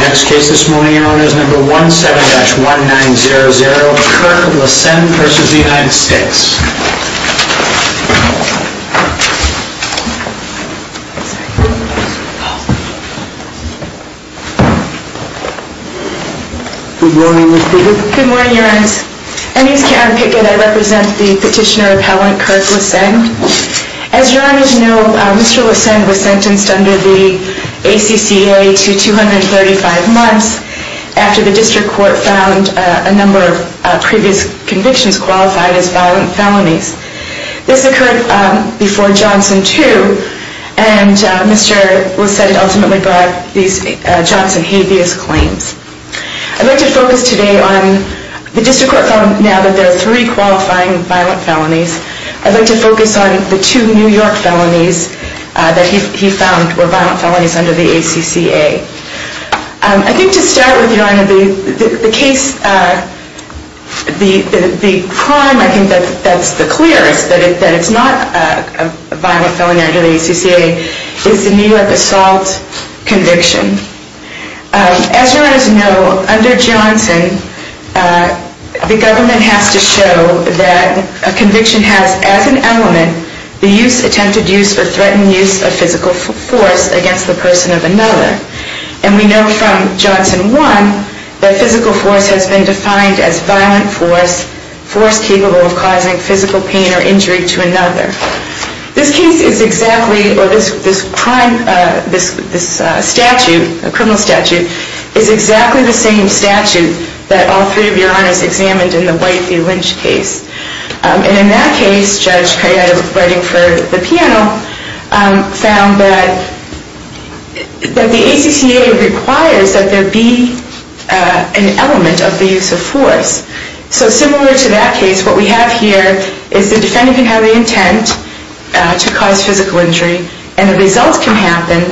Next case this morning, your honor, is number 17-1900, Kirk Lassend v. United States. Good morning, Mr. Pickett. Good morning, your honors. My name is Karen Pickett. I represent the petitioner appellant, Kirk Lassend. As your honors know, Mr. Lassend was sentenced under the ACCA to 235 months after the district court found a number of previous convictions qualified as violent felonies. This occurred before Johnson 2, and Mr. Lassend ultimately brought these Johnson habeas claims. I'd like to focus today on the district court found now that there are three qualifying violent felonies. I'd like to focus on the two New York felonies that he found were violent felonies under the ACCA. I think to start with, your honor, the case, the crime I think that's the clearest, that it's not a violent felony under the ACCA, is the New York assault conviction. As your honors know, under Johnson, the government has to show that a conviction has as an element the attempted use or threatened use of physical force against the person of another. And we know from Johnson 1 that physical force has been defined as violent force, force capable of causing physical pain or injury to another. This case is exactly, or this crime, this statute, a criminal statute, is exactly the same statute that all three of your honors examined in the White v. Lynch case. And in that case, Judge Criatta, writing for the panel, found that the ACCA requires that there be an element of the use of force. So similar to that case, what we have here is the defendant can have the intent to cause physical injury and the results can happen,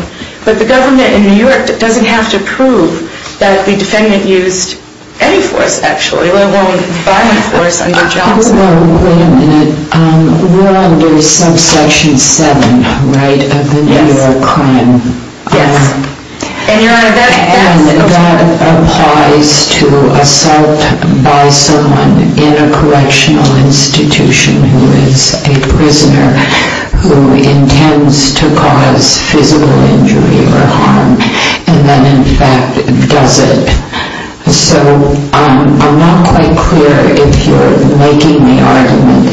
but the government in New York doesn't have to prove that the defendant used any force actually, let alone violent force under Johnson. Wait a minute, we're under subsection 7, right, of the New York crime? Yes. And that applies to assault by someone in a correctional institution who is a prisoner who intends to cause physical injury or harm, and then in fact does it. So I'm not quite clear if you're making the argument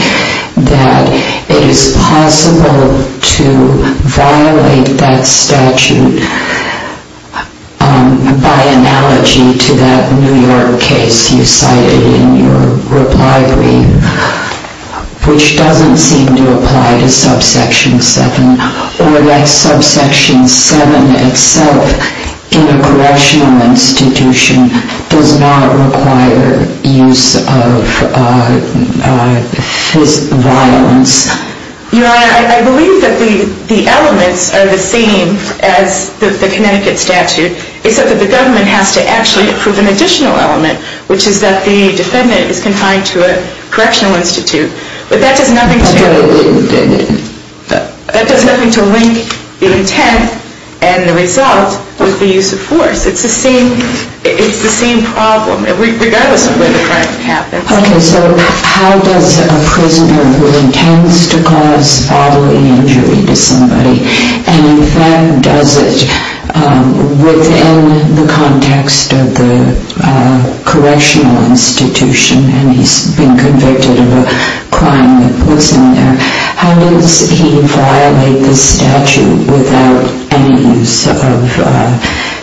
that it is possible to violate that statute by analogy to that New York case you cited in your reply brief, which doesn't seem to apply to subsection 7, or that subsection 7 itself in a correctional institution does not require use of physical violence. Your Honor, I believe that the elements are the same as the Connecticut statute, except that the government has to actually approve an additional element, which is that the defendant is confined to a correctional institute, but that does nothing to link the intent and the result with the use of force. It's the same problem, regardless of where the crime happens. Okay, so how does a prisoner who intends to cause bodily injury to somebody, and in fact does it within the context of the correctional institution, and he's been convicted of a crime that puts him there, how does he violate the statute without any use of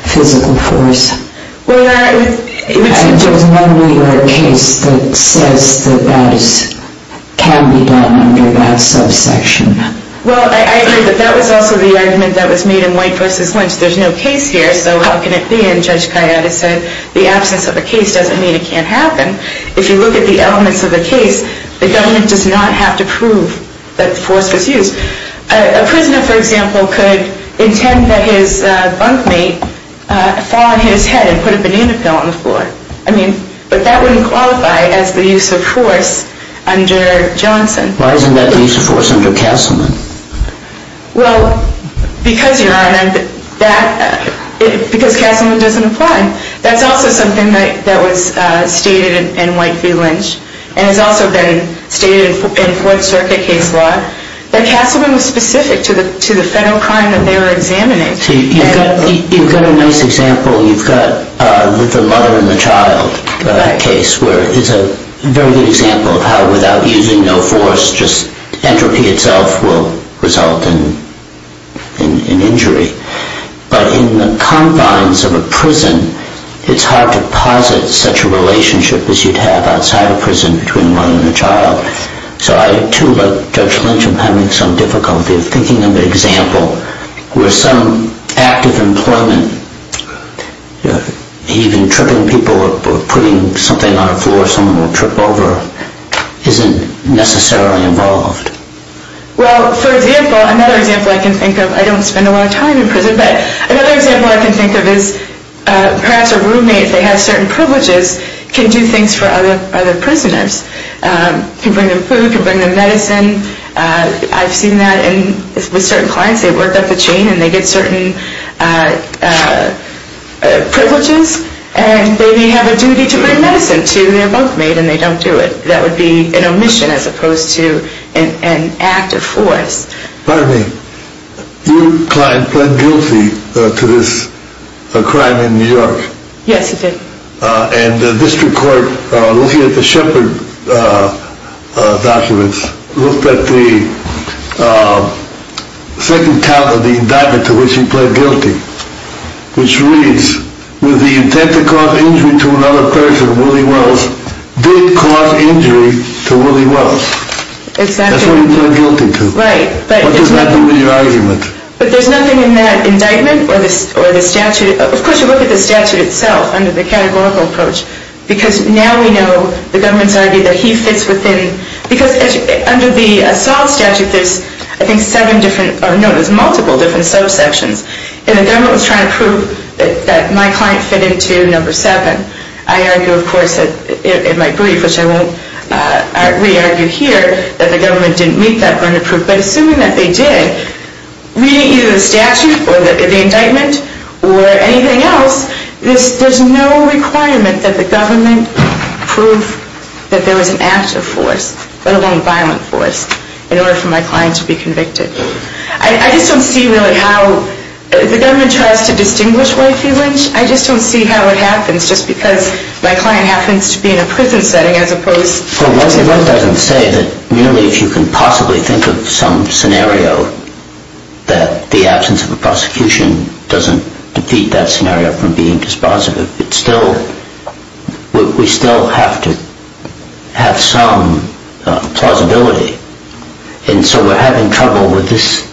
physical force? I just wonder if there's a case that says that that can be done under that subsection. Well, I agree that that was also the argument that was made in White v. Lynch. There's no case here, so how can it be? And Judge Kayaba said the absence of a case doesn't mean it can't happen. If you look at the elements of the case, the government does not have to prove that force was used. A prisoner, for example, could intend that his bunkmate fall on his head and put a banana peel on the floor, but that wouldn't qualify as the use of force under Johnson. Why isn't that the use of force under Castleman? Well, because, Your Honor, because Castleman doesn't apply. That's also something that was stated in White v. Lynch, and has also been stated in Fourth Circuit case law. But Castleman was specific to the federal crime that they were examining. You've got a nice example. You've got the mother and the child case, where it's a very good example of how without using no force, just entropy itself will result in injury. But in the confines of a prison, it's hard to posit such a relationship as you'd have outside a prison between a mother and a child. So I, too, like Judge Lynch, am having some difficulty of thinking of an example where some act of employment, even tripping people or putting something on the floor someone will trip over, isn't necessarily involved. Well, for example, another example I can think of, I don't spend a lot of time in prison, but another example I can think of is perhaps a roommate that has certain privileges can do things for other prisoners. Can bring them food, can bring them medicine. I've seen that with certain clients. They work up the chain, and they get certain privileges, and they have a duty to bring medicine to their roommate, and they don't do it. That would be an omission as opposed to an act of force. Pardon me. Your client pled guilty to this crime in New York. Yes, he did. And the district court, looking at the Shepard documents, looked at the second count of the indictment to which he pled guilty, which reads, with the intent to cause injury to another person, Willie Wells did cause injury to Willie Wells. That's what he pled guilty to. Right. What does that do to your argument? But there's nothing in that indictment or the statute. Of course, you look at the statute itself under the categorical approach, because now we know the government's argued that he fits within – because under the assault statute, there's, I think, seven different – no, there's multiple different subsections. And the government was trying to prove that my client fit into number seven. I argue, of course, in my brief, which I won't re-argue here, that the government didn't meet that point of proof. But assuming that they did, reading either the statute or the indictment or anything else, there's no requirement that the government prove that there was an active force, let alone a violent force, in order for my client to be convicted. I just don't see really how – the government tries to distinguish White v. Lynch. I just don't see how it happens, just because my client happens to be in a prison setting as opposed to – Well, that doesn't say that merely if you can possibly think of some scenario that the absence of a prosecution doesn't defeat that scenario from being dispositive. It's still – we still have to have some plausibility. And so we're having trouble with this.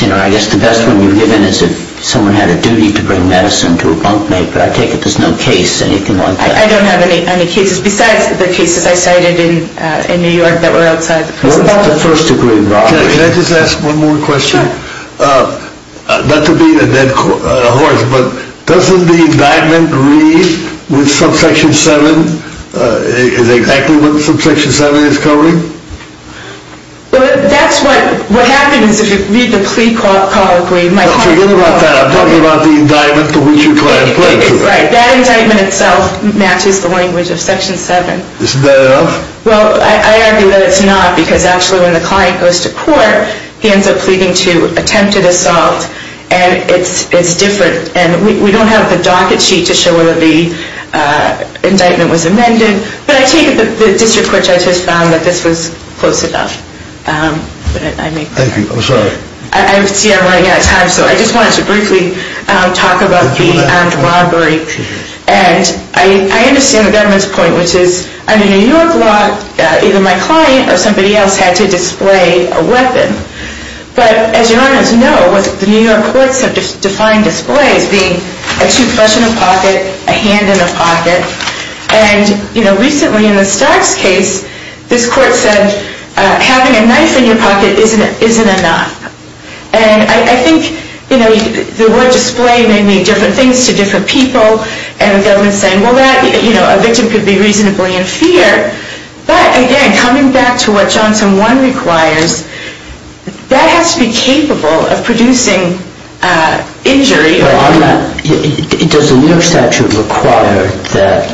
I guess the best one you've given is if someone had a duty to bring medicine to a bunkmate, but I take it there's no case, anything like that. I don't have any cases besides the cases I cited in New York that were outside the prison bunk. Can I just ask one more question? Sure. Not to beat a dead horse, but doesn't the indictment read with subsection 7, is exactly what subsection 7 is covering? That's what – what happens if you read the plea colloquy. Forget about that. I'm talking about the indictment that we should try to play to. Right. That indictment itself matches the language of section 7. Isn't that enough? Well, I argue that it's not because actually when the client goes to court, he ends up pleading to attempted assault, and it's different. And we don't have the docket sheet to show whether the indictment was amended, but I take it the district court judge has found that this was close enough. Thank you. I'm sorry. I see I'm running out of time, so I just wanted to briefly talk about the armed robbery. And I understand the government's point, which is under New York law, either my client or somebody else had to display a weapon. But as you all know, the New York courts have defined display as being a toothbrush in a pocket, a hand in a pocket, and, you know, recently in the Starks case, this court said having a knife in your pocket isn't enough. And I think, you know, the word display may mean different things to different people, and the government's saying, well, that, you know, a victim could be reasonably in fear. But, again, coming back to what Johnson 1 requires, that has to be capable of producing injury. Does the New York statute require that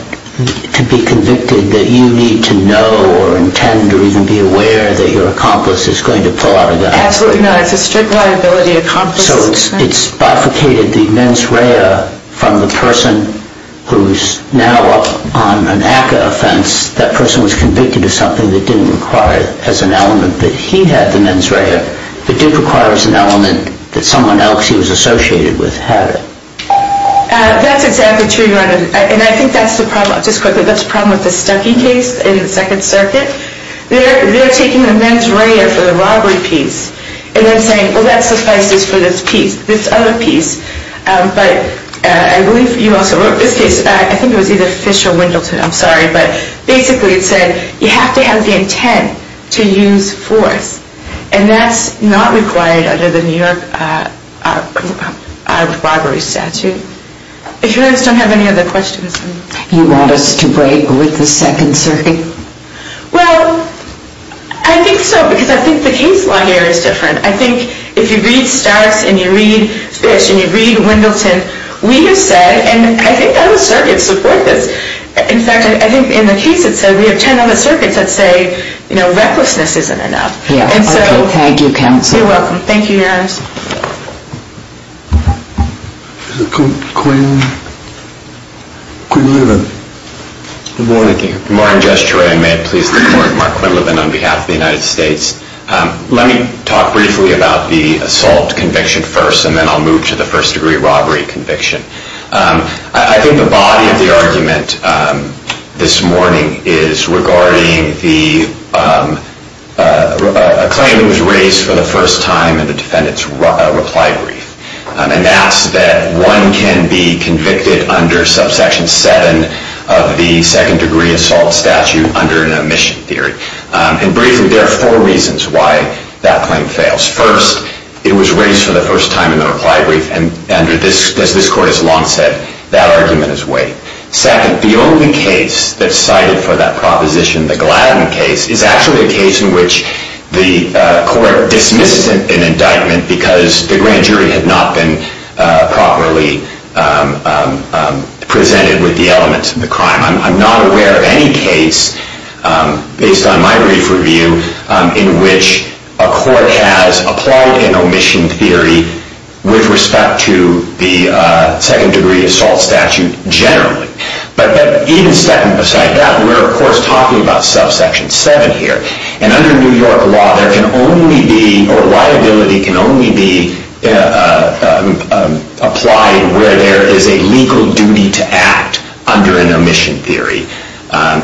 to be convicted that you need to know or intend or even be aware that your accomplice is going to pull out a gun? Absolutely not. It's a strict liability. So it's bifurcated the mens rea from the person who's now up on an ACCA offense. That person was convicted of something that didn't require as an element that he had the mens rea, but did require as an element that someone else he was associated with had it. That's exactly true, Your Honor. And I think that's the problem. Just quickly, that's the problem with the Stuckey case in the Second Circuit. They're taking the mens rea for the robbery piece and then saying, well, that suffices for this piece, this other piece. But I believe you also wrote this case. I think it was either Fish or Wendleton. I'm sorry. But basically it said you have to have the intent to use force. And that's not required under the New York armed robbery statute. If you don't have any other questions. You want us to break with the Second Circuit? Well, I think so, because I think the case law here is different. I think if you read Starks and you read Fish and you read Wendleton, we have said, and I think other circuits support this. In fact, I think in the case it said we have 10 other circuits that say, you know, And so you're welcome. Thank you, Your Honor. Is it Quinn? Good morning. Good morning, Judge Troy. And may it please the Court, Mark Quinlivan on behalf of the United States. Let me talk briefly about the assault conviction first, and then I'll move to the first-degree robbery conviction. I think the body of the argument this morning is regarding the claim that was raised for the first time in the defendant's reply brief. And that's that one can be convicted under subsection 7 of the second-degree assault statute under an omission theory. And briefly, there are four reasons why that claim fails. First, it was raised for the first time in the reply brief, and as this Court has long said, that argument is weight. Second, the only case that's cited for that proposition, the Gladden case, is actually a case in which the Court dismisses an indictment because the grand jury had not been properly presented with the elements of the crime. I'm not aware of any case, based on my brief review, in which a court has applied an omission theory with respect to the second-degree assault statute generally. But even second beside that, we're, of course, talking about subsection 7 here. And under New York law, there can only be, or liability can only be, applied where there is a legal duty to act under an omission theory.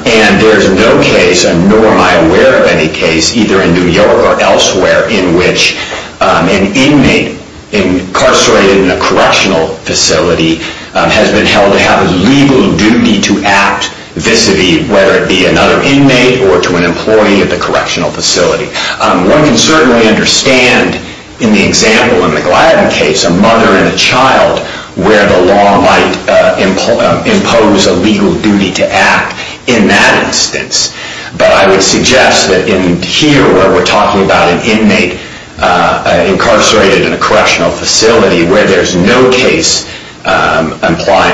And there's no case, nor am I aware of any case, either in New York or elsewhere, in which an inmate incarcerated in a correctional facility has been held to have a legal duty to act vis-a-vis, whether it be another inmate or to an employee at the correctional facility. One can certainly understand, in the example in the Gladden case, a mother and a child, where the law might impose a legal duty to act in that instance. But I would suggest that in here, where we're talking about an inmate incarcerated in a correctional facility, where there's no case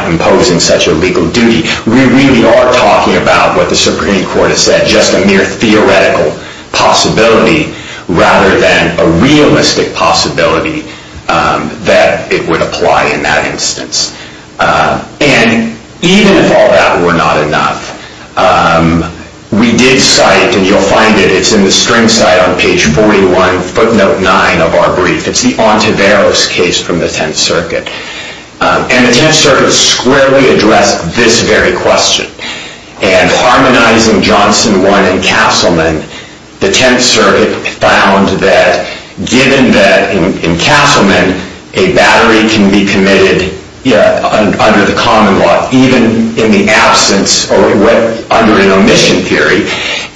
imposing such a legal duty, we really are talking about what the Supreme Court has said, just a mere theoretical possibility, rather than a realistic possibility that it would apply in that instance. And even if all that were not enough, we did cite, and you'll find it, it's in the string site on page 41, footnote 9 of our brief, it's the Ontiveros case from the Tenth Circuit. And the Tenth Circuit squarely addressed this very question. And harmonizing Johnson 1 and Castleman, the Tenth Circuit found that, given that in Castleman, a battery can be committed under the common law, even in the absence or under an omission theory,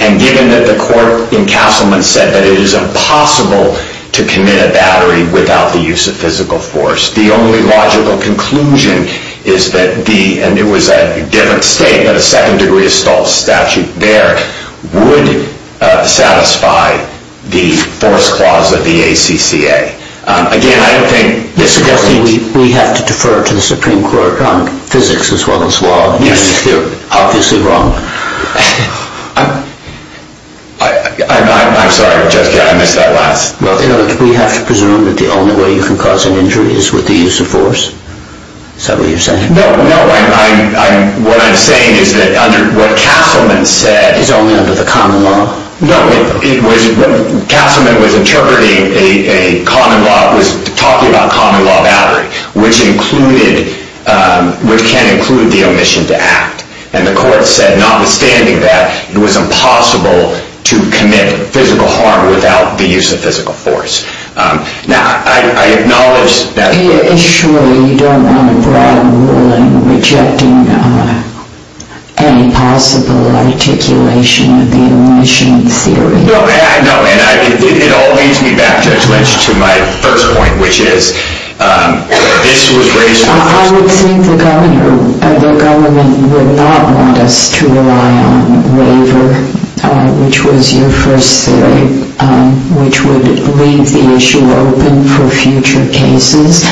and given that the court in Castleman said that it is impossible to commit a battery without the use of physical force. The only logical conclusion is that the, and it was a different state, but a second degree of staunch statute there, would satisfy the force clause of the ACCA. Again, I don't think... We have to defer to the Supreme Court on physics as well as law. Yes, we do. Obviously wrong. I'm sorry, Judge, I missed that last. We have to presume that the only way you can cause an injury is with the use of force? Is that what you're saying? No, what I'm saying is that what Castleman said... Is only under the common law? No, Castleman was interpreting a common law, was talking about common law battery, which included, which can include the omission to act. And the court said, notwithstanding that, it was impossible to commit physical harm without the use of physical force. Now, I acknowledge that... I assure you, you don't want a broad ruling rejecting any possible articulation of the omission theory. No, and it all leads me back, Judge Lynch, to my first point, which is, this was raised... I would think the government would not want us to rely on a waiver, which was your first theory, which would leave the issue open for future cases,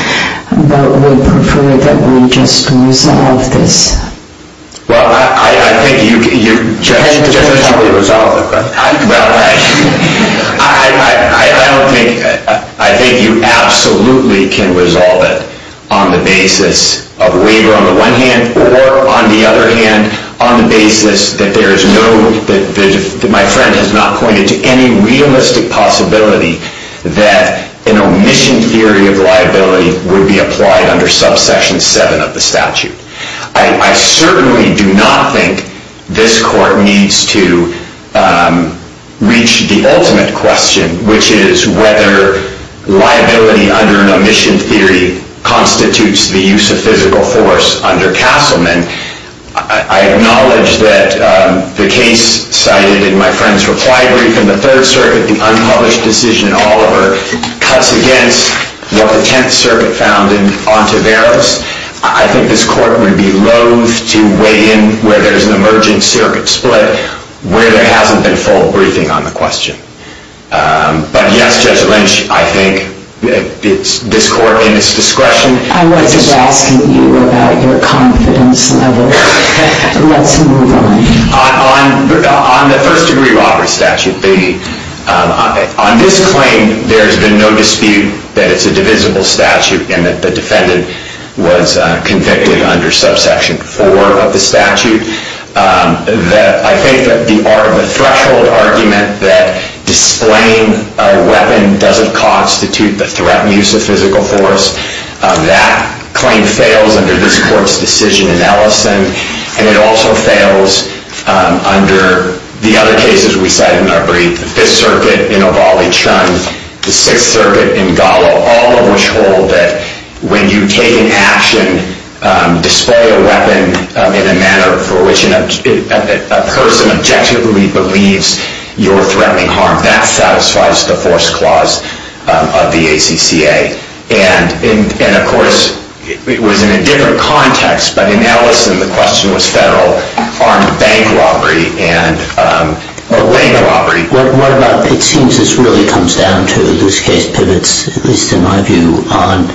but would prefer that we just resolve this. Well, I think you can... Judge, how do we resolve it? Well, I don't think... I think you absolutely can resolve it on the basis of a waiver on the one hand, or, on the other hand, on the basis that there is no... that an omission theory of liability would be applied under subsection 7 of the statute. I certainly do not think this court needs to reach the ultimate question, which is whether liability under an omission theory constitutes the use of physical force under Castleman. I acknowledge that the case cited in my friend's reply brief in the Third Circuit, the unpublished decision in Oliver, cuts against what the Tenth Circuit found in Ontiveros. I think this court would be loath to weigh in where there's an emerging circuit split where there hasn't been full briefing on the question. But yes, Judge Lynch, I think this court, in its discretion... I wasn't asking you about your confidence level. Let's move on. On the First Degree Robbery Statute, on this claim, there's been no dispute that it's a divisible statute and that the defendant was convicted under subsection 4 of the statute. I think that the threshold argument that displaying a weapon doesn't constitute the threatened use of physical force, that claim fails under this court's decision in Ellison, and it also fails under the other cases we cited in our brief. The Fifth Circuit in Ovalle-Trunn, the Sixth Circuit in Gallo, all of which hold that when you take an action, display a weapon in a manner for which a person objectively believes you're threatening harm, that satisfies the force clause of the ACCA. And, of course, it was in a different context, but in Ellison, the question was federal armed bank robbery. What about, it seems this really comes down to, this case pivots, at least in my view, on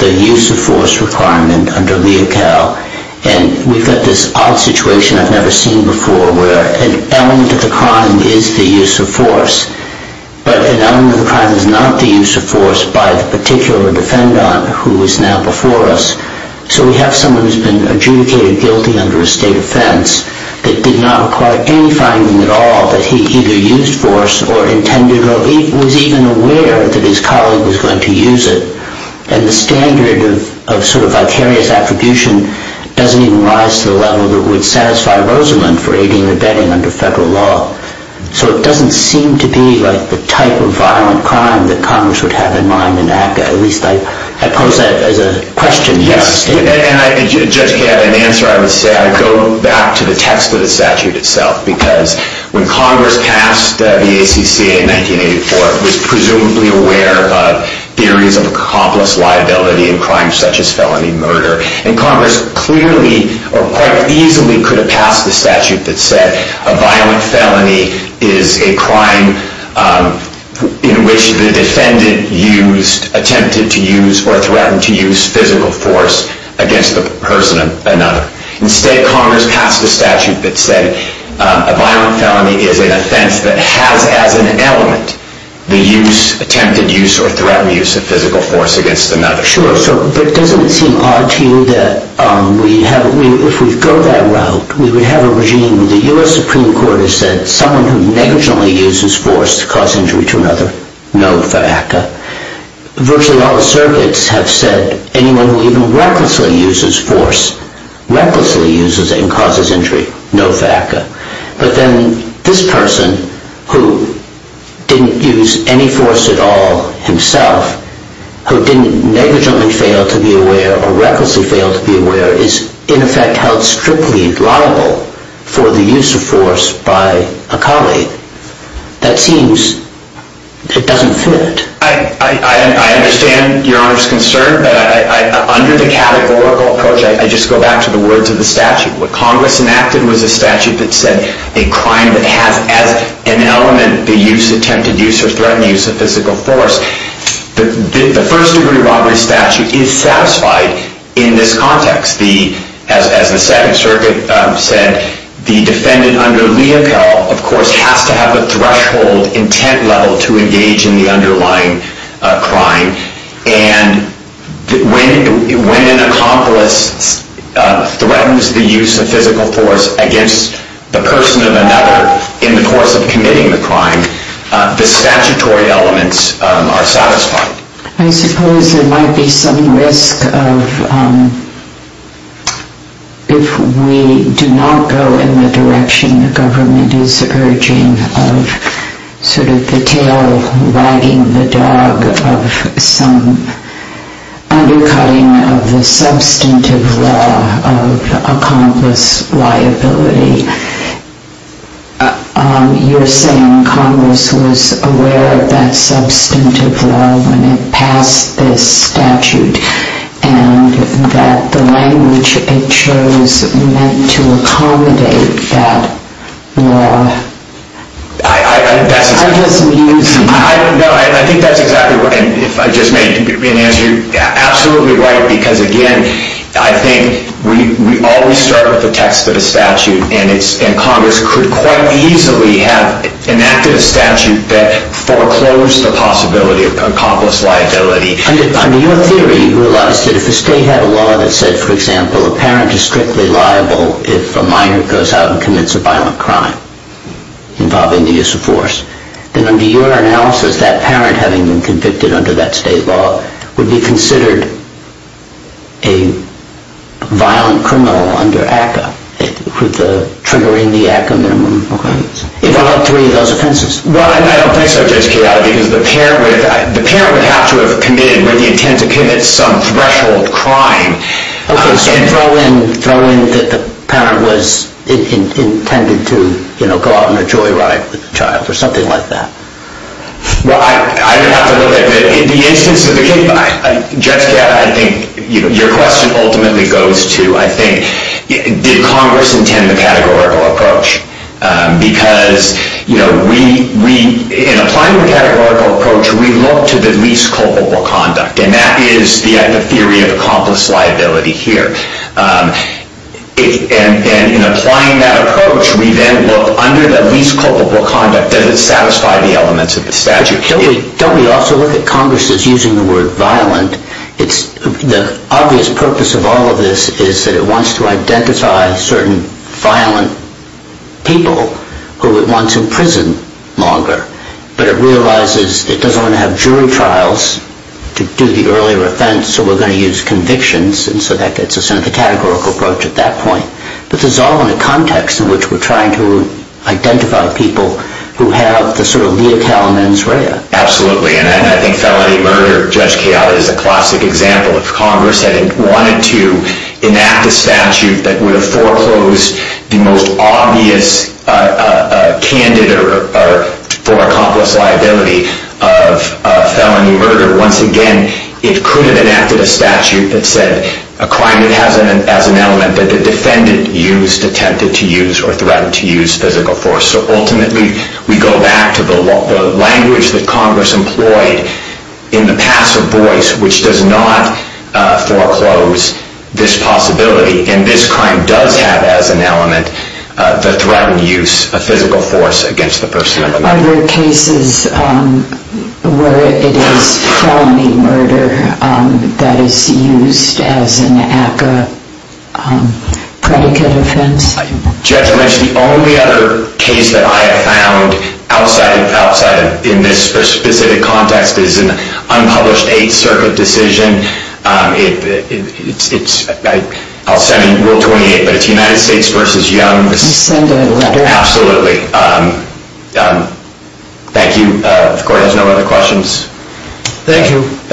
the use of force requirement under Leocal, and we've got this odd situation I've never seen before where an element of the crime is the use of force, but an element of the crime is not the use of force by the particular defendant who is now before us. So we have someone who's been adjudicated guilty under a state offense that did not require any finding at all that he either used force or intended or was even aware that his colleague was going to use it, and the standard of sort of vicarious attribution doesn't even rise to the level that would satisfy Rosalind for aiding or abetting under federal law. So it doesn't seem to be like the type of violent crime that Congress would have in mind in ACCA, at least I pose that as a question, not a statement. Yes, and Judge Kaye, an answer I would say, I go back to the text of the statute itself, because when Congress passed the ACCA in 1984, it was presumably aware of theories of accomplice liability in crimes such as felony murder, and Congress clearly or quite easily could have passed the statute that said a violent felony is a crime in which the defendant attempted to use or threatened to use physical force against the person of another. Instead, Congress passed a statute that said a violent felony is an offense that has as an element the attempted use or threatened use of physical force against another. Sure, but doesn't it seem odd to you that if we go that route, we would have a regime where the U.S. Supreme Court has said someone who negligently uses force to cause injury to another, no for ACCA. Virtually all the circuits have said anyone who even recklessly uses force, recklessly uses it and causes injury, no for ACCA. But then this person who didn't use any force at all himself, who didn't negligently fail to be aware or recklessly fail to be aware is in effect held strictly liable for the use of force by a colleague. That seems, it doesn't fit. I understand Your Honor's concern, but under the categorical approach, I just go back to the words of the statute. What Congress enacted was a statute that said a crime that has as an element the use, attempted use or threatened use of physical force. The first degree robbery statute is satisfied in this context. As the Second Circuit said, the defendant under Leopold, of course, has to have a threshold intent level to engage in the underlying crime. And when an accomplice threatens the use of physical force against the person of another in the course of committing the crime, the statutory elements are satisfied. I suppose there might be some risk of if we do not go in the direction the government is urging of sort of the tail wagging the dog of some undercutting of the substantive law of accomplice liability. You're saying Congress was aware of that substantive law when it passed this statute and that the language it chose meant to accommodate that law. I think that's exactly what I just made. You're absolutely right because, again, I think we always start with the text of the statute, and Congress could quite easily have enacted a statute that foreclosed the possibility of accomplice liability. Under your theory, you realize that if a state had a law that said, for example, a parent is strictly liable if a minor goes out and commits a violent crime involving the use of force, then under your analysis, that parent having been convicted under that state law would be considered a violent criminal under ACCA, triggering the ACCA minimum. If all three of those offenses. Well, I don't think so, J.C. Chiara, because the parent would have to have committed where the intent to commit some threshold crime. Okay, so throw in that the parent was intended to go out on a joyride with the child or something like that. Well, I would have to look at it. In the instance of the case, Judge Chiara, I think your question ultimately goes to, I think, did Congress intend the categorical approach? Because in applying the categorical approach, we look to the least culpable conduct, and that is the theory of accomplice liability here. And in applying that approach, we then look under the least culpable conduct, does it satisfy the elements of the statute? Don't we also look at Congress as using the word violent? The obvious purpose of all of this is that it wants to identify certain violent people who it wants in prison longer, but it realizes it doesn't want to have jury trials to do the earlier offense, so we're going to use convictions, and so that gets us into the categorical approach at that point. But this is all in the context in which we're trying to identify people who have the sort of lea calamans rea. Absolutely, and I think felony murder, Judge Chiara, is a classic example. If Congress had wanted to enact a statute that would have foreclosed the most obvious candidate for accomplice liability of felony murder, once again, it could have enacted a statute that said a crime that has an element that the defendant used, attempted to use, or threatened to use physical force. So ultimately, we go back to the language that Congress employed in the pass of voice, which does not foreclose this possibility, and this crime does have as an element the threatened use of physical force against the person. Are there cases where it is felony murder that is used as an ACCA predicate offense? Judge, the only other case that I have found outside of this specific context is an unpublished Eighth Circuit decision. I'll send you Rule 28, but it's United States v. Young. You send a letter? Absolutely. Thank you. If the Court has no other questions. Thank you. Thank you, Your Honor.